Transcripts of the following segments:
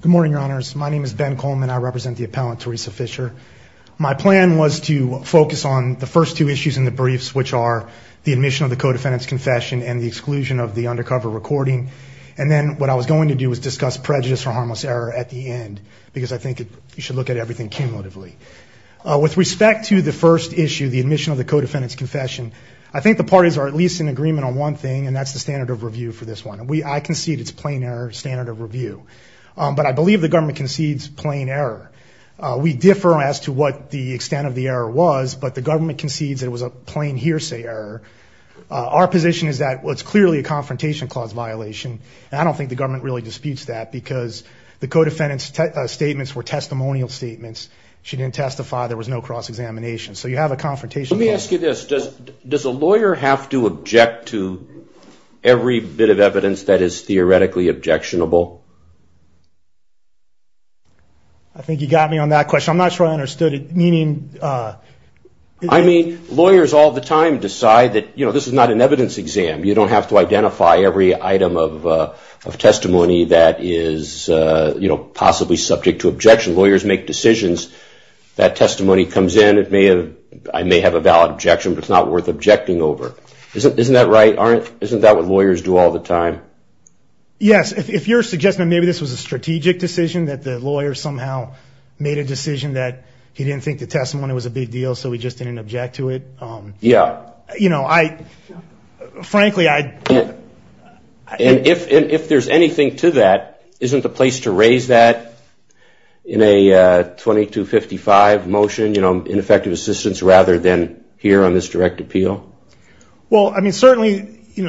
Good morning, your honors. My name is Ben Coleman. I represent the appellant Theresa Fisher. My plan was to focus on the first two issues in the briefs, which are the admission of the co-defendant's confession and the exclusion of the undercover recording. And then what I was going to do was discuss prejudice or harmless error at the end, because I think you should look at everything cumulatively. With respect to the first issue, the admission of the co-defendant's confession, I think the parties are at least in agreement on one thing, and that's the standard of review for this one. I concede it's plain error, standard of review. But I believe the government concedes plain error. We differ as to what the extent of the error was, but the government concedes it was a plain hearsay error. Our position is that it's clearly a confrontation clause violation, and I don't think the government really disputes that, because the co-defendant's statements were testimonial statements. She didn't testify. There was no cross-examination. So you have a confrontation clause. Let me ask you this. Does a lawyer have to object to every bit of evidence that is theoretically objectionable? I think you got me on that question. I'm not sure I understood it. I mean, lawyers all the time decide that this is not an evidence exam. You don't have to identify every item of testimony that is possibly subject to objection. Lawyers make decisions. That testimony comes in. I may have a valid objection, but it's not worth objecting over. Isn't that right, Arnett? Isn't that what lawyers do all the time? Yes. If you're suggesting that maybe this was a strategic decision, that the lawyer somehow made a decision that he didn't think the testimony was a big deal, so he just didn't object to it, frankly, I... If there's anything to that, isn't the place to raise that in a 2255 motion, in effective assistance, rather than here on this direct appeal? Well, I mean, certainly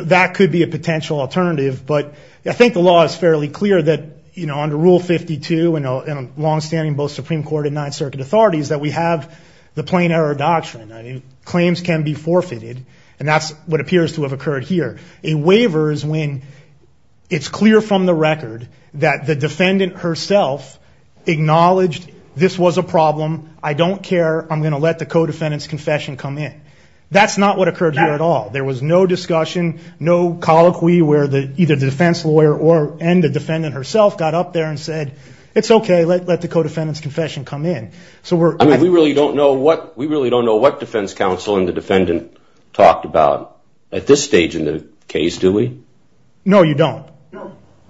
that could be a potential alternative, but I think the law is fairly clear that under Rule 52 and longstanding both Supreme Court and Ninth Circuit authorities that we have the plain error doctrine. Claims can be forfeited, and that's what appears to have occurred here. A waiver is when it's clear from the record that the defendant herself acknowledged this was a problem, I don't care, I'm going to let the co-defendant's confession come in. That's not what occurred here at all. There was no discussion, no colloquy where either the defense lawyer and the defendant herself got up there and said, it's okay, let the co-defendant's confession come in. I mean, we really don't know what defense counsel and the defendant talked about at this stage in the case, do we? No, you don't.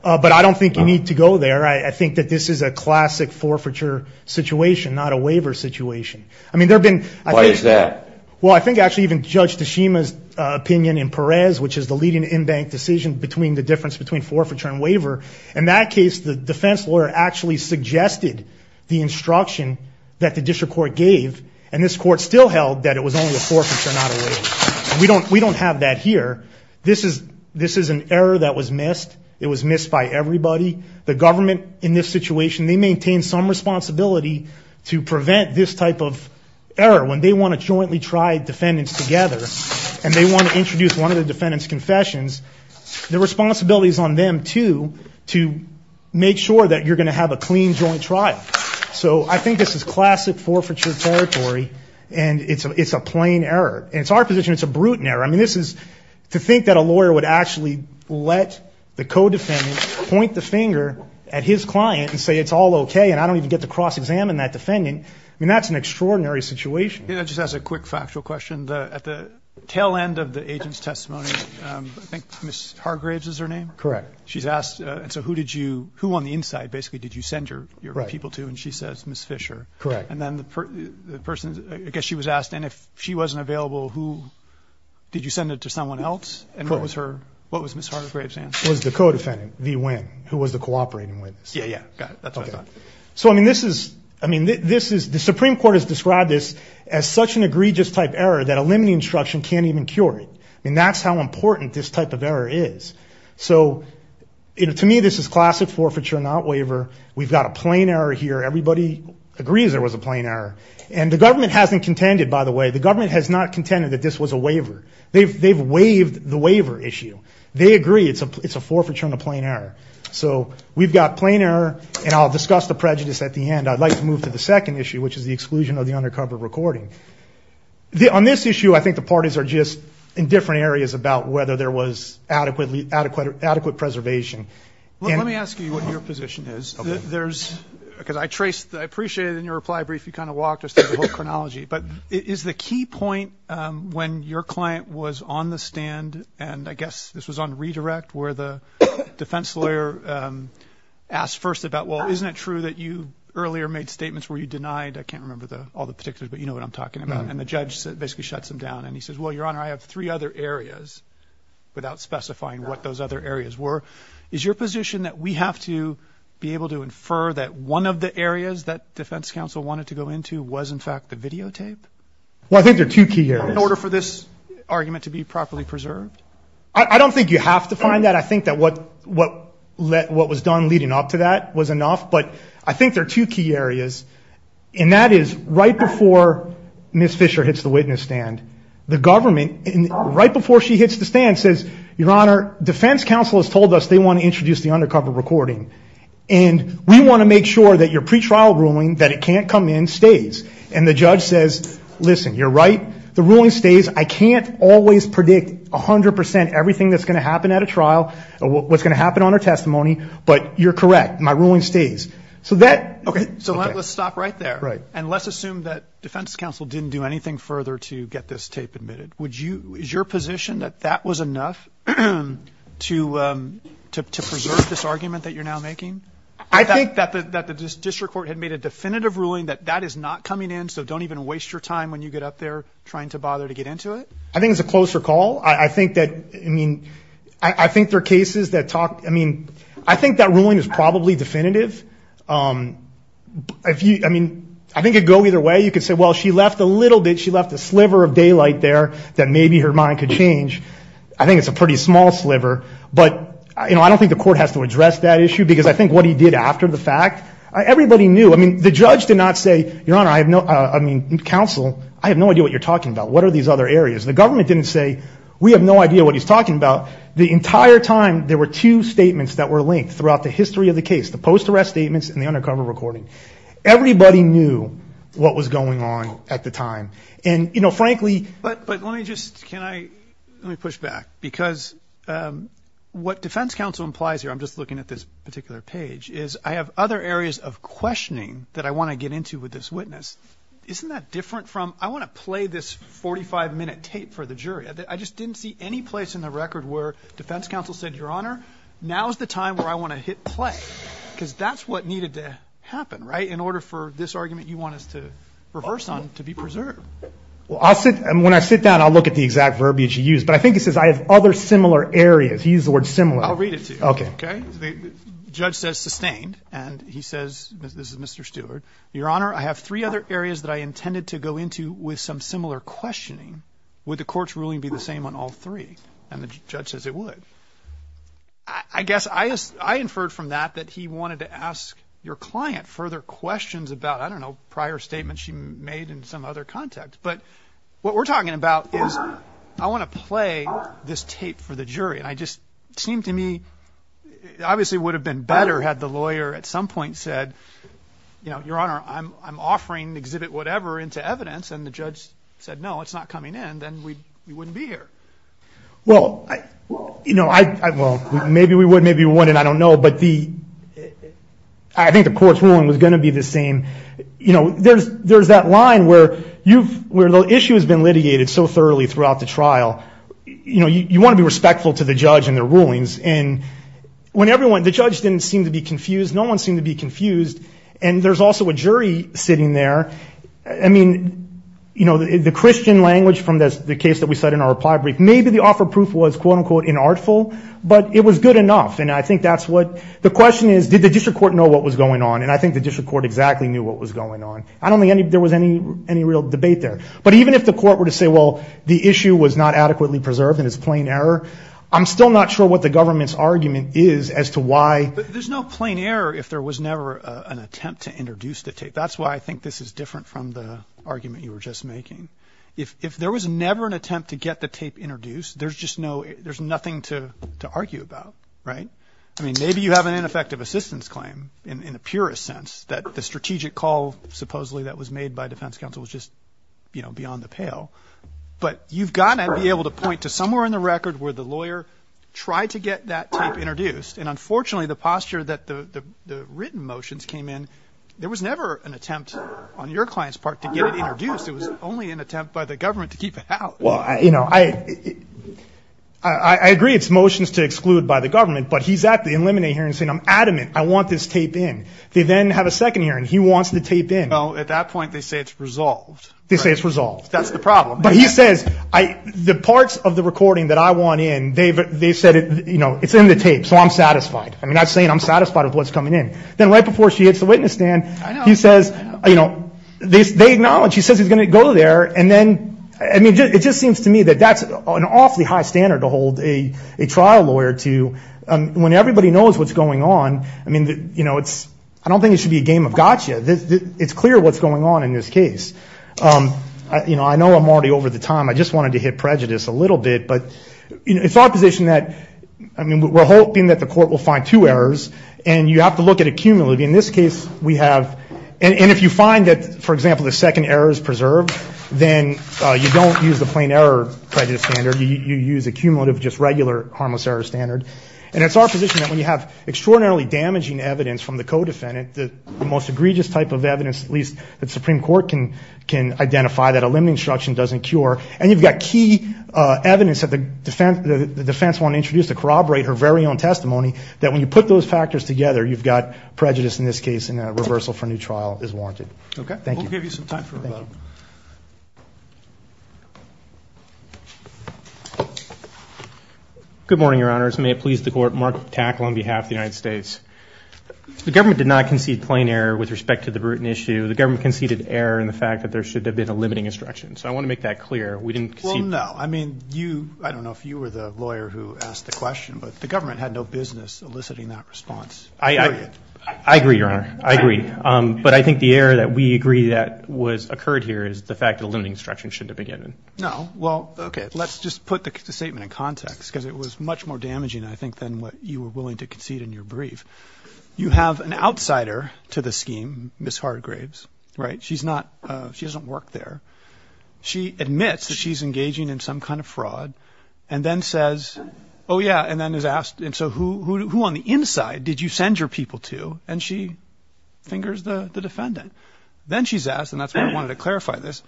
But I don't think you need to go there. I think that this is a classic forfeiture situation, not a waiver situation. Why is that? Well, I think actually even Judge Tashima's opinion in Perez, which is the leading in-bank decision between the difference between forfeiture and waiver, in that case the defense lawyer actually suggested the instruction that the district court gave, and this court still held that it was only a forfeiture, not a waiver. We don't have that here. This is an error that was missed. It was missed by everybody. The government in this situation, they maintain some responsibility to prevent this type of error. When they want to jointly try defendants together, and they want to introduce one of the defendant's confessions, the responsibility is on them, too, to make sure that you're going to have a clean joint trial. So I think this is classic forfeiture territory, and it's a plain error. And it's our position it's a brutal error. I mean, this is, to think that a lawyer would actually let the co-defendant point the finger at his client and say it's all okay, and I don't even get to cross-examine that defendant, I mean, that's an extraordinary situation. Yeah, just as a quick factual question, at the tail end of the agent's testimony, I think Ms. Hargraves is her name? Correct. She's asked, so who did you, who on the inside, basically, did you send your people to? And she says, Ms. Fisher. Correct. And then the person, I guess she was asked, and if she wasn't available, who, did you send it to someone else? And what was her, what was Ms. Hargraves' answer? It was the co-defendant, V. Nguyen, who was the cooperating witness. Yeah, yeah, got it. That's what I thought. So I mean, this is, I mean, this is, the Supreme Court has described this as such an egregious type error that a limiting instruction can't even cure it. I mean, that's how important this type of error is. So, you know, to me, this is classic forfeiture, not waiver. We've got a plain error here. Everybody agrees there was a plain error. And the government hasn't contended, by the way, the government has not contended that this was a waiver. They've waived the waiver issue. They agree it's a forfeiture and a plain error. So we've got plain error, and I'll discuss the prejudice at the end. I'd like to move to the second issue, which is the exclusion of the undercover recording. On this issue, I think the parties are just in different areas about whether there was adequately, adequate, adequate preservation. Let me ask you what your position is. There's, because I traced, I appreciated in your reply brief, you kind of walked us through the whole chronology. But is the key point when your client was on the stand, and I guess this was on redirect where the defense lawyer asked first about, well, isn't it true that you earlier made statements where you denied, I wasn't talking about, and the judge basically shuts him down. And he says, well, your honor, I have three other areas without specifying what those other areas were. Is your position that we have to be able to infer that one of the areas that defense counsel wanted to go into was in fact the videotape? Well, I think there are two key areas. In order for this argument to be properly preserved? I don't think you have to find that. I think that what was done leading up to that was there are two key areas, and that is right before Ms. Fisher hits the witness stand, the government, right before she hits the stand, says, your honor, defense counsel has told us they want to introduce the undercover recording. And we want to make sure that your pretrial ruling, that it can't come in, stays. And the judge says, listen, you're right, the ruling stays. I can't always predict 100 percent everything that's going to happen at a trial, what's going to happen on her testimony, but you're correct, my ruling stays. So let's stop right there. And let's assume that defense counsel didn't do anything further to get this tape admitted. Is your position that that was enough to preserve this argument that you're now making? That the district court had made a definitive ruling that that is not coming in, so don't even waste your time when you get up there trying to bother to get into it? I think it's a closer call. I think that, I mean, I think there are cases that talk, I mean, I think that ruling is probably definitive. If you, I mean, I think it'd go either way. You could say, well, she left a little bit, she left a sliver of daylight there that maybe her mind could change. I think it's a pretty small sliver. But, you know, I don't think the court has to address that issue, because I think what he did after the fact, everybody knew. I mean, the judge did not say, your honor, I have no, I mean, counsel, I have no idea what you're talking about. What are these other areas? The government didn't say, we have no idea what he's talking about. The entire time, there were two statements that were linked throughout the history of the case, the post-arrest statements and the undercover recording. Everybody knew what was going on at the time. And, you know, frankly... But let me just, can I, let me push back, because what defense counsel implies here, I'm just looking at this particular page, is I have other areas of questioning that I want to get into with this witness. Isn't that different from, I want to play this 45 minute tape for the jury? I just didn't see any place in the record where defense counsel said, your honor, now's the time where I want to hit play, because that's what needed to happen, right? In order for this argument you want us to reverse on to be preserved. Well, I'll sit, and when I sit down, I'll look at the exact verbiage you used. But I think he says, I have other similar areas. He used the word similar. I'll read it to you. Okay. Okay. The judge says sustained, and he says, this is Mr. Stewart. Your honor, I have three other areas that I intended to go into with some similar questioning. Would the court's ruling be the same on all three? And the judge says it would. I guess I inferred from that that he wanted to ask your client further questions about, I don't know, prior statements she made in some other context. But what we're talking about is, I want to play this tape for the jury. And I just, it seemed to me, obviously it would have been better had the lawyer at some point said, your honor, I'm offering exhibit whatever into evidence. And the judge said, no, it's not coming in. Then we wouldn't be here. Well, maybe we would, maybe we wouldn't. I don't know. But I think the court's ruling was going to be the same. There's that line where the issue has been litigated so thoroughly throughout the trial. You want to be respectful to the judge and their rulings. And when everyone, the judge didn't seem to be confused. No one seemed to be confused. And there's also a jury sitting there. I mean, you know, the Christian language from the case that we said in our reply brief, maybe the offer of proof was, quote unquote, inartful, but it was good enough. And I think that's what, the question is, did the district court know what was going on? And I think the district court exactly knew what was going on. I don't think there was any real debate there. But even if the court were to say, well, the issue was not adequately preserved and it's plain error, I'm still not sure what the government's argument is as to why. But there's no plain error if there was never an attempt to introduce the tape. That's why I think this is different from the argument you were just making. If there was never an attempt to get the tape introduced, there's just no, there's nothing to argue about. Right? I mean, maybe you have an ineffective assistance claim in the purest sense that the strategic call supposedly that was made by defense counsel was just, you know, beyond the pale. But you've got to be able to point to somewhere in the record where the lawyer tried to get that tape introduced. And unfortunately the posture that the written motions came in, there was never an attempt on your client's part to get it introduced. It was only an attempt by the government to keep it out. Well, you know, I, I agree it's motions to exclude by the government, but he's at the eliminate hearing saying, I'm adamant. I want this tape in. They then have a second hearing. He wants the tape in. Oh, at that point they say it's resolved. They say it's resolved. That's the problem. But he says, I, the parts of the recording that I want in, they've, they said, you know, it's in the tape. So I'm satisfied. I mean, I'm saying I'm satisfied with what's coming in. Then right before she hits the witness stand, he says, you know, they, they acknowledge he says he's going to go there. And then, I mean, it just seems to me that that's an awfully high standard to hold a, a trial lawyer to when everybody knows what's going on. I mean, you know, it's, I don't think it should be a game of gotcha. It's clear what's going on in this case. You know, I know I'm already over the time. I just wanted to hit prejudice a little bit. But, you know, it's our position that, I mean, we're hoping that the court will find two errors and you have to look at accumulative. In this case, we have, and if you find that, for example, the second error is preserved, then you don't use the plain error prejudice standard. You use accumulative, just regular harmless error standard. And it's our position that when you have extraordinarily damaging evidence from the co-defendant, the most egregious type of evidence, at least that Supreme Court can, can identify, that a limited instruction doesn't cure. And you've got key evidence that the defense, the defense won't introduce to corroborate her very own testimony, that when you put those factors together, you've got prejudice in this case and a reversal for a new trial is warranted. Okay. Thank you. We'll give you some time for rebuttal. Good morning, Your Honors. May it please the Court, Mark Tackle on behalf of the United States. The government did not concede plain error with respect to the Bruton issue. The government conceded error in the fact that there should have been a limiting instruction. So I want to make that clear. We didn't concede. Well, no. I mean, you, I don't know if you were the lawyer who asked the question, but the government had no business eliciting that response. I, I, I agree, Your Honor. I agree. But I think the error that we agree that was occurred here is the fact that a limiting instruction shouldn't have been given. No. Well, okay. Let's just put the statement in context because it was much more damaging, I think, than what you were willing to concede in your brief. You have an outsider to the that she's engaging in some kind of fraud and then says, oh, yeah, and then is asked, and so who, who, who on the inside did you send your people to? And she fingers the defendant. Then she's asked, and that's what I wanted to clarify this.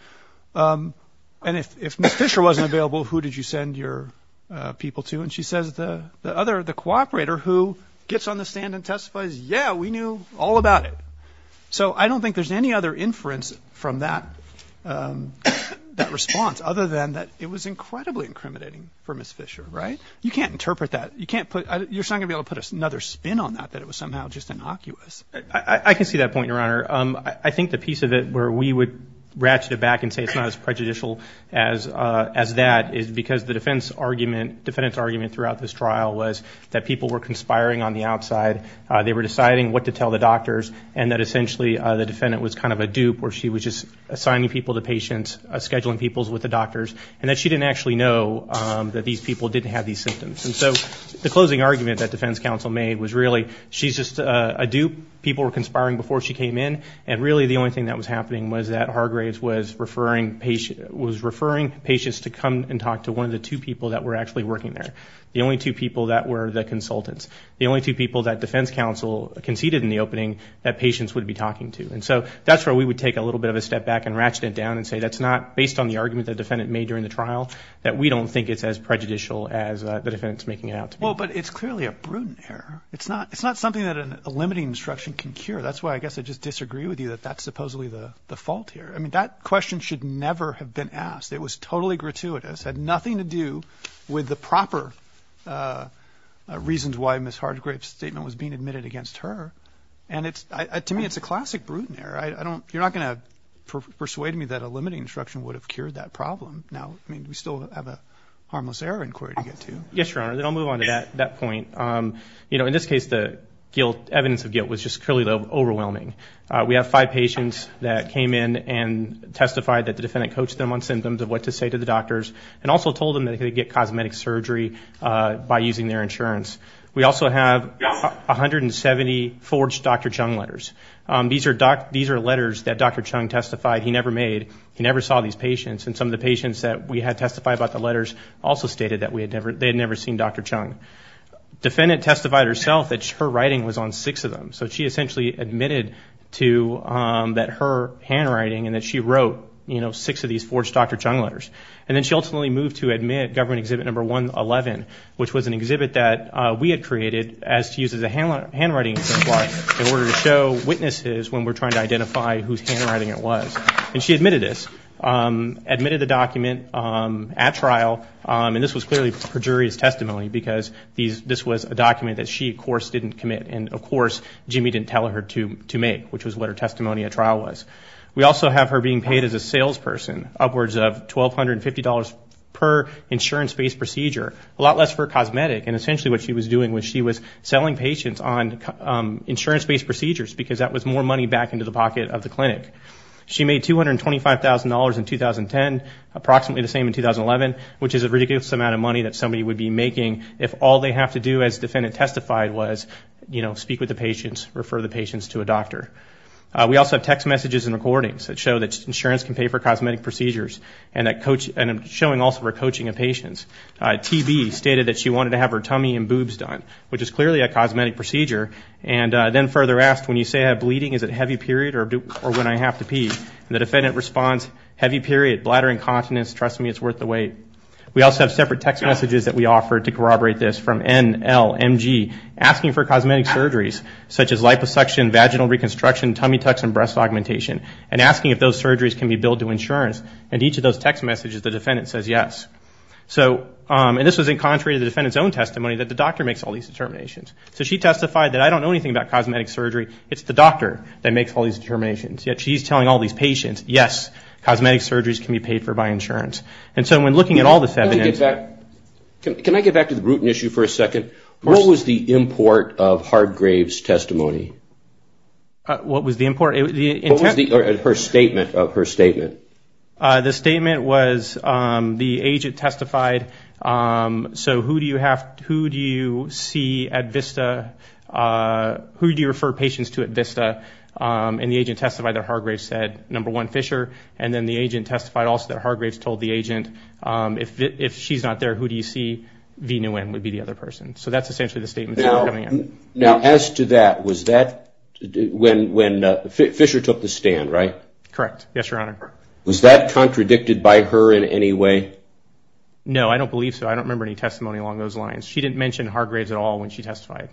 And if, if Ms. Fisher wasn't available, who did you send your people to? And she says the, the other, the cooperator who gets on the stand and testifies, yeah, we knew all about it. So I don't think there's any other inference from that, that response other than that it was incredibly incriminating for Ms. Fisher, right? You can't interpret that. You can't put, you're not going to be able to put another spin on that, that it was somehow just innocuous. I can see that point, Your Honor. I think the piece of it where we would ratchet it back and say it's not as prejudicial as, as that is because the defense argument, defendant's argument throughout this trial was that people were conspiring on the outside. They were kind of a dupe where she was just assigning people to patients, scheduling people with the doctors, and that she didn't actually know that these people didn't have these symptoms. And so the closing argument that defense counsel made was really, she's just a dupe. People were conspiring before she came in. And really the only thing that was happening was that Hargraves was referring patient, was referring patients to come and talk to one of the two people that were actually working there. The only two people that were the consultants. The only two people that defense counsel conceded in the opening that patients would be talking to. And so that's where we would take a little bit of a step back and ratchet it down and say that's not, based on the argument the defendant made during the trial, that we don't think it's as prejudicial as the defendant's making it out to be. Well, but it's clearly a prudent error. It's not, it's not something that a limiting instruction can cure. That's why I guess I just disagree with you that that's supposedly the, the fault here. I mean, that question should never have been asked. It was totally gratuitous, had nothing to do with the proper reasons why Ms. Hargraves' statement was being admitted against her. And it's, to me, it's a classic prudent error. I don't, you're not going to persuade me that a limiting instruction would have cured that problem. Now, I mean, we still have a harmless error inquiry to get to. Yes, Your Honor. Then I'll move on to that, that point. You know, in this case, the guilt, evidence of guilt was just clearly overwhelming. We have five patients that came in and testified that the defendant coached them on symptoms of what to say to the doctors and also told them that they could get cosmetic surgery by using their insurance. We also have a hundred and seventy forged Dr. Chung letters. These are, these are letters that Dr. Chung testified he never made. He never saw these patients. And some of the patients that we had testified about the letters also stated that we had never, they had never seen Dr. Chung. Defendant testified herself that her writing was on six of them. So she essentially admitted to that her handwriting and that she wrote, you know, six of these forged Dr. Chung letters. And then she ultimately moved to admit government exhibit number 111, which was an exhibit that we had created as to use as a handwriting, in order to show witnesses when we're trying to identify whose handwriting it was. And she admitted this, admitted the document at trial. And this was clearly perjurious testimony because these, this was a document that she, of course, didn't commit. And of course, Jimmy didn't tell her to, to make, which was what her testimony at trial was. We also have her being paid as a salesperson, upwards of $1,250 per insurance-based procedure, a lot less for a cosmetic. And essentially what she was doing was she was selling patients on insurance-based procedures because that was more money back into the pocket of the clinic. She made $225,000 in 2010, approximately the same in 2011, which is a ridiculous amount of money that somebody would be making if all they have to do as defendant testified was, you know, speak with the patients, refer the patients to a doctor. We also have text messages and recordings that show that insurance can pay for cosmetic procedures and that, and showing also her coaching of patients. TB stated that she wanted to have her tummy and boobs done, which is clearly a cosmetic procedure. And then further asked, when you say I have bleeding, is it a heavy period or when I have to pee? And the defendant responds, heavy period, bladder incontinence, trust me, it's worth the wait. We also have separate text messages that we offer to corroborate this from N, L, M, G, asking for cosmetic surgeries, such as liposuction, vaginal reconstruction, tummy tucks and breast augmentation, and asking if those surgeries can be billed to insurance. And each of those text messages, the defendant says yes. So, and this was in contrary to the defendant's own testimony that the doctor makes all these determinations. So she testified that I don't know anything about cosmetic surgery, it's the doctor that makes all these determinations. Yet she's telling all these patients, yes, cosmetic surgeries can be paid for by insurance. And so when looking at all this evidence... Can I ask you for a second? What was the import of Hargrave's testimony? What was the import? What was her statement of her statement? The statement was the agent testified, so who do you see at Vista? Who do you refer patients to at Vista? And the agent testified that Hargrave said, number one, Fisher. And then the agent testified also that Hargrave's told the agent, if she's not there, who do you see, V. Nguyen, would be the other person. So that's essentially the statement. Now as to that, was that when Fisher took the stand, right? Correct. Yes, Your Honor. Was that contradicted by her in any way? No, I don't believe so. I don't remember any testimony along those lines. She didn't mention Hargrave's at all when she testified.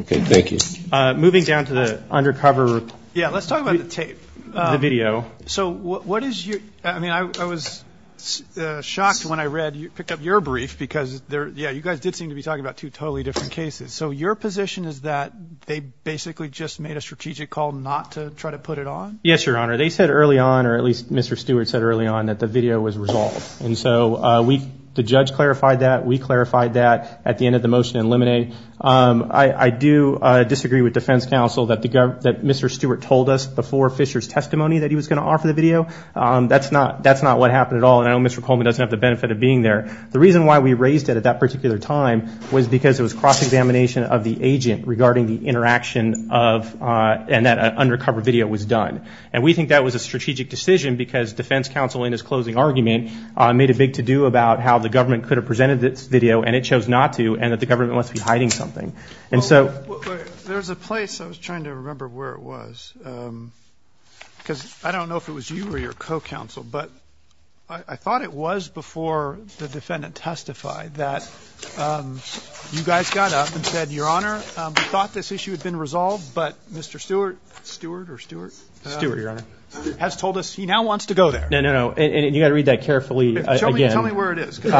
Okay, thank you. Moving down to the undercover... Yeah, let's talk about the tape. The video. So what is your... I mean, I was shocked when I read, picked up your brief because, yeah, you guys did seem to be talking about two totally different cases. So your position is that they basically just made a strategic call not to try to put it on? Yes, Your Honor. They said early on, or at least Mr. Stewart said early on, that the video was resolved. And so the judge clarified that, we clarified that at the end of the motion in Lemonade. I do disagree with defense counsel that Mr. Stewart told us before Fisher's going to offer the video. That's not, that's not what happened at all. And I know Mr. Coleman doesn't have the benefit of being there. The reason why we raised it at that particular time was because it was cross-examination of the agent regarding the interaction of, and that undercover video was done. And we think that was a strategic decision because defense counsel, in his closing argument, made a big to-do about how the government could have presented this video, and it chose not to, and that the government must be hiding something. Well, there's a place, I was trying to remember where it was, because I don't know if it was you or your co-counsel, but I thought it was before the defendant testified that you guys got up and said, Your Honor, we thought this issue had been resolved, but Mr. Stewart, Stewart or Stewart? Stewart, Your Honor. Has told us he now wants to go there. No, no, no. And you've got to read that carefully again. Tell me where it is. You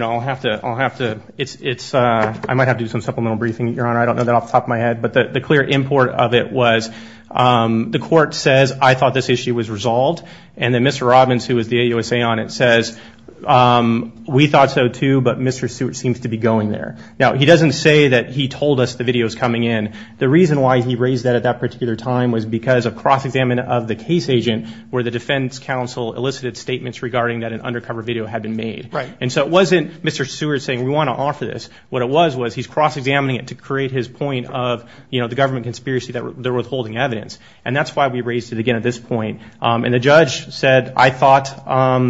know, I'll have to, I'll have to, it's, it's, I might have to do some supplemental briefing, Your Honor, I don't know that off the top of my head, but the clear import of it was, the court says, I thought this issue was resolved, and then Mr. Robbins, who was the AUSA on it, says, we thought so too, but Mr. Stewart seems to be going there. Now, he doesn't say that he told us the video was coming in. The reason why he raised that at that particular time was because of cross-examination of the case agent where the defense counsel elicited statements regarding that an undercover video had been made. Right. And so it wasn't Mr. Stewart saying, we want to offer this. What it was, was he's cross-examining it to create his point of, you know, the government conspiracy that they're withholding evidence. And that's why we raised it again at this point. And the judge said, I thought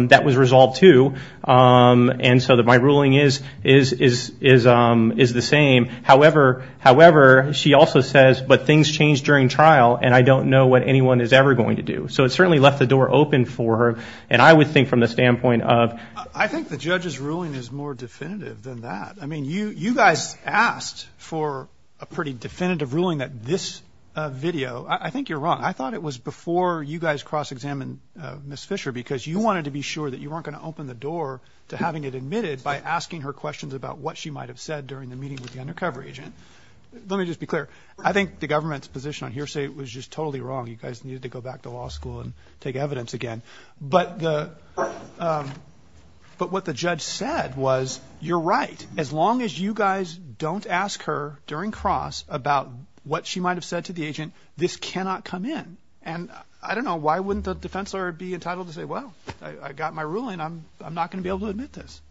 that was resolved too. And so that my ruling is, is, is, is, is the same. However, however, she also says, but things change during trial and I don't know what anyone is ever going to do. So it certainly left the door open for her. And I would think from the standpoint of I think the judge's ruling is more definitive than that. I mean, you, you guys asked for a pretty definitive ruling that this video, I think you're wrong. I thought it was before you guys cross-examined Ms. Fisher because you wanted to be sure that you weren't going to open the door to having it admitted by asking her questions about what she might have said during the meeting with the undercover agent. Let me just be clear. I think the government's interpretation on hearsay was just totally wrong. You guys needed to go back to law school and take evidence again. But the, um, but what the judge said was, you're right. As long as you guys don't ask her during cross about what she might've said to the agent, this cannot come in. And I don't know why wouldn't the defense lawyer be entitled to say, well, I got my ruling. I'm, I'm not going to be able to admit this.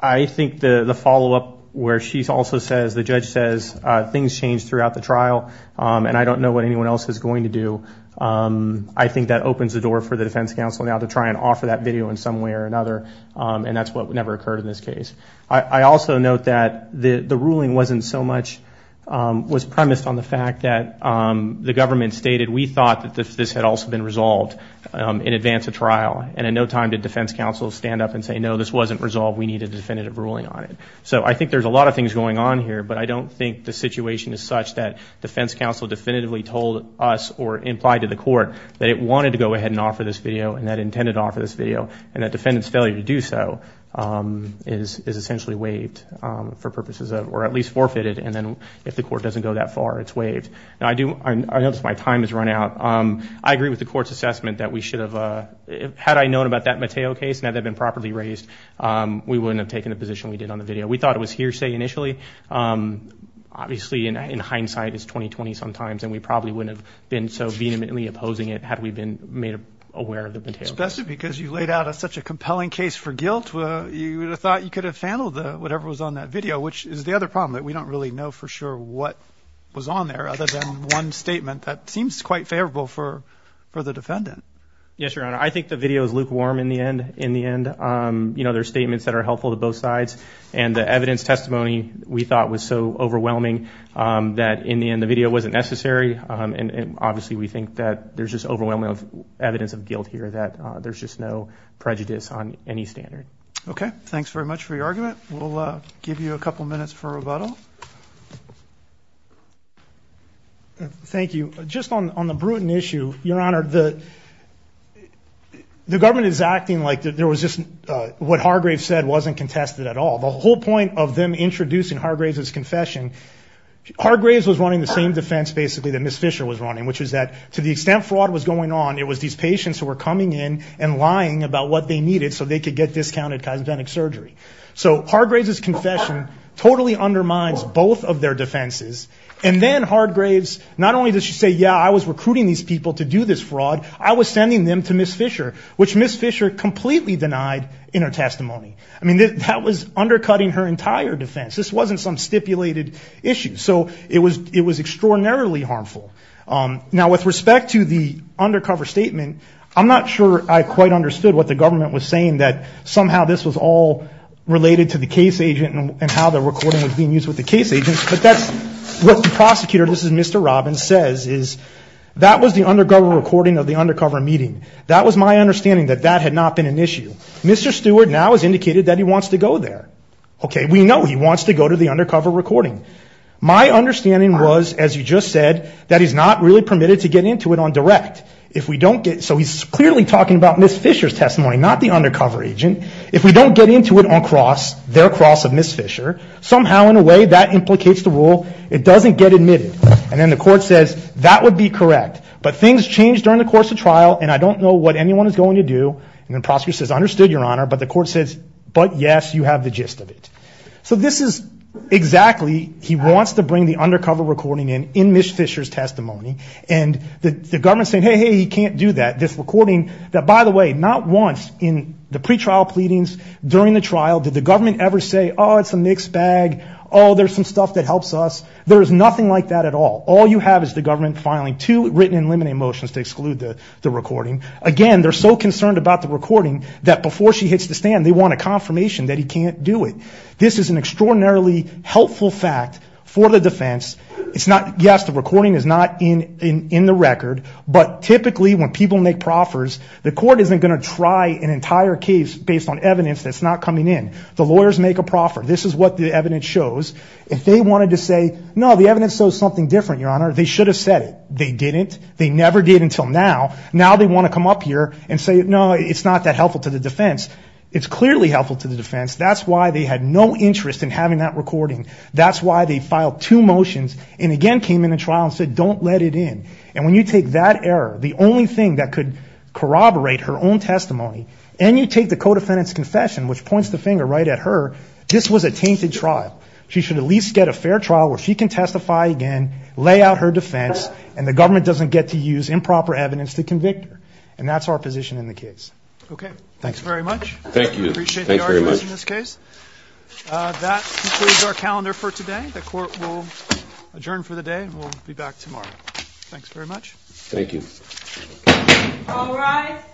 I think the, the follow-up where she's also says, the judge says, uh, things change throughout the trial. Um, and I don't know what anyone else is going to do. Um, I think that opens the door for the defense counsel now to try and offer that video in some way or another. Um, and that's what never occurred in this case. I also note that the, the ruling wasn't so much, um, was premised on the fact that, um, the government stated, we thought that this had also been resolved, um, in advance of trial. And in no time did defense counsel stand up and say, no, this wasn't resolved. We need a definitive ruling on it. So I think there's a lot of things going on here, but I don't think the situation is such that defense counsel definitively told us or implied to the court that it wanted to go ahead and offer this video and that intended offer this video and that defendant's failure to do so, um, is essentially waived, um, for purposes of, or at least forfeited. And then if the court doesn't go that far, it's waived. And I do, I notice my time has run out. Um, I agree with the court's assessment that we should have, uh, had I known about that Mateo case and had that been properly raised, um, we wouldn't have taken the position we did on the video. We thought it was hearsay initially. Um, obviously in hindsight it's 2020 sometimes and we probably wouldn't have been so vehemently opposing it had we been made aware of the Mateo case. Especially because you laid out a, such a compelling case for guilt. Uh, you would have thought you could have handled the, whatever was on that video, which is the other problem that we don't really know for sure what was on there other than one statement that seems quite favorable for, for the defendant. Yes, Your Honor. I think the video is lukewarm in the end, in the end. Um, you know, there's to both sides and the evidence testimony we thought was so overwhelming, um, that in the end the video wasn't necessary. Um, and, and obviously we think that there's just overwhelming of evidence of guilt here that, uh, there's just no prejudice on any standard. Okay. Thanks very much for your argument. We'll, uh, give you a couple minutes for rebuttal. Thank you. Just on, on the Bruton issue, Your Honor, the, the government is acting like there was just, uh, what Hargraves said wasn't contested at all. The whole point of them introducing Hargraves' confession, Hargraves was running the same defense basically that Ms. Fisher was running, which is that to the extent fraud was going on, it was these patients who were coming in and lying about what they needed so they could get discounted cosmetic surgery. So Hargraves' confession totally undermines both of their defenses. And then Hargraves, not only does she say, yeah, I was recruiting these people to do this fraud, I was sending them to Ms. Fisher, which Ms. Fisher completely denied in her testimony. I mean, that was undercutting her entire defense. This wasn't some stipulated issue. So it was, it was extraordinarily harmful. Um, now with respect to the undercover statement, I'm not sure I quite understood what the government was saying, that somehow this was all related to the case agent and how the recording was being used with the case agents, but that's what the prosecutor, this is Mr. Robbins, says is that was the undercover recording of the undercover meeting. That was my understanding that that had not been an issue. Mr. Stewart now has indicated that he wants to go there. Okay, we know he wants to go to the undercover recording. My understanding was, as you just said, that he's not really permitted to get into it on direct. If we don't get, so he's clearly talking about Ms. Fisher's testimony, not the undercover agent. If we don't get into it on cross, their cross of Ms. Fisher, somehow in a way that doesn't get admitted. And then the court says, that would be correct, but things change during the course of trial. And I don't know what anyone is going to do. And the prosecutor says, understood your honor. But the court says, but yes, you have the gist of it. So this is exactly, he wants to bring the undercover recording in, in Ms. Fisher's testimony and the government saying, Hey, Hey, he can't do that. This recording that by the way, not once in the pretrial pleadings during the trial, did the government ever say, Oh, it's a mixed bag. Oh, there's some stuff that helps us. There's nothing like that at all. All you have is the government filing two written and limited motions to exclude the recording. Again, they're so concerned about the recording that before she hits the stand, they want a confirmation that he can't do it. This is an extraordinarily helpful fact for the defense. It's not, yes, the recording is not in the record, but typically when people make proffers, the court isn't going to try an entire case based on evidence that's not coming in. The lawyers make a proffer. This is what the evidence shows. If they wanted to say, no, the evidence shows something different, your honor, they should have said it. They didn't. They never did until now. Now they want to come up here and say, no, it's not that helpful to the defense. It's clearly helpful to the defense. That's why they had no interest in having that recording. That's why they filed two motions and again, came into trial and said, don't let it in. And when you take that error, the only thing that could corroborate her own testimony and you take the co-defendant's confession, which points the finger right at her, this was a tainted trial. She should at least get a fair trial where she can testify again, lay out her defense and the government doesn't get to use improper evidence to convict her. And that's our position in the case. Okay. Thanks very much. Appreciate the arguments in this case. That concludes our calendar for today. The court will adjourn for the day and we'll be back tomorrow. Thanks very much. All rise.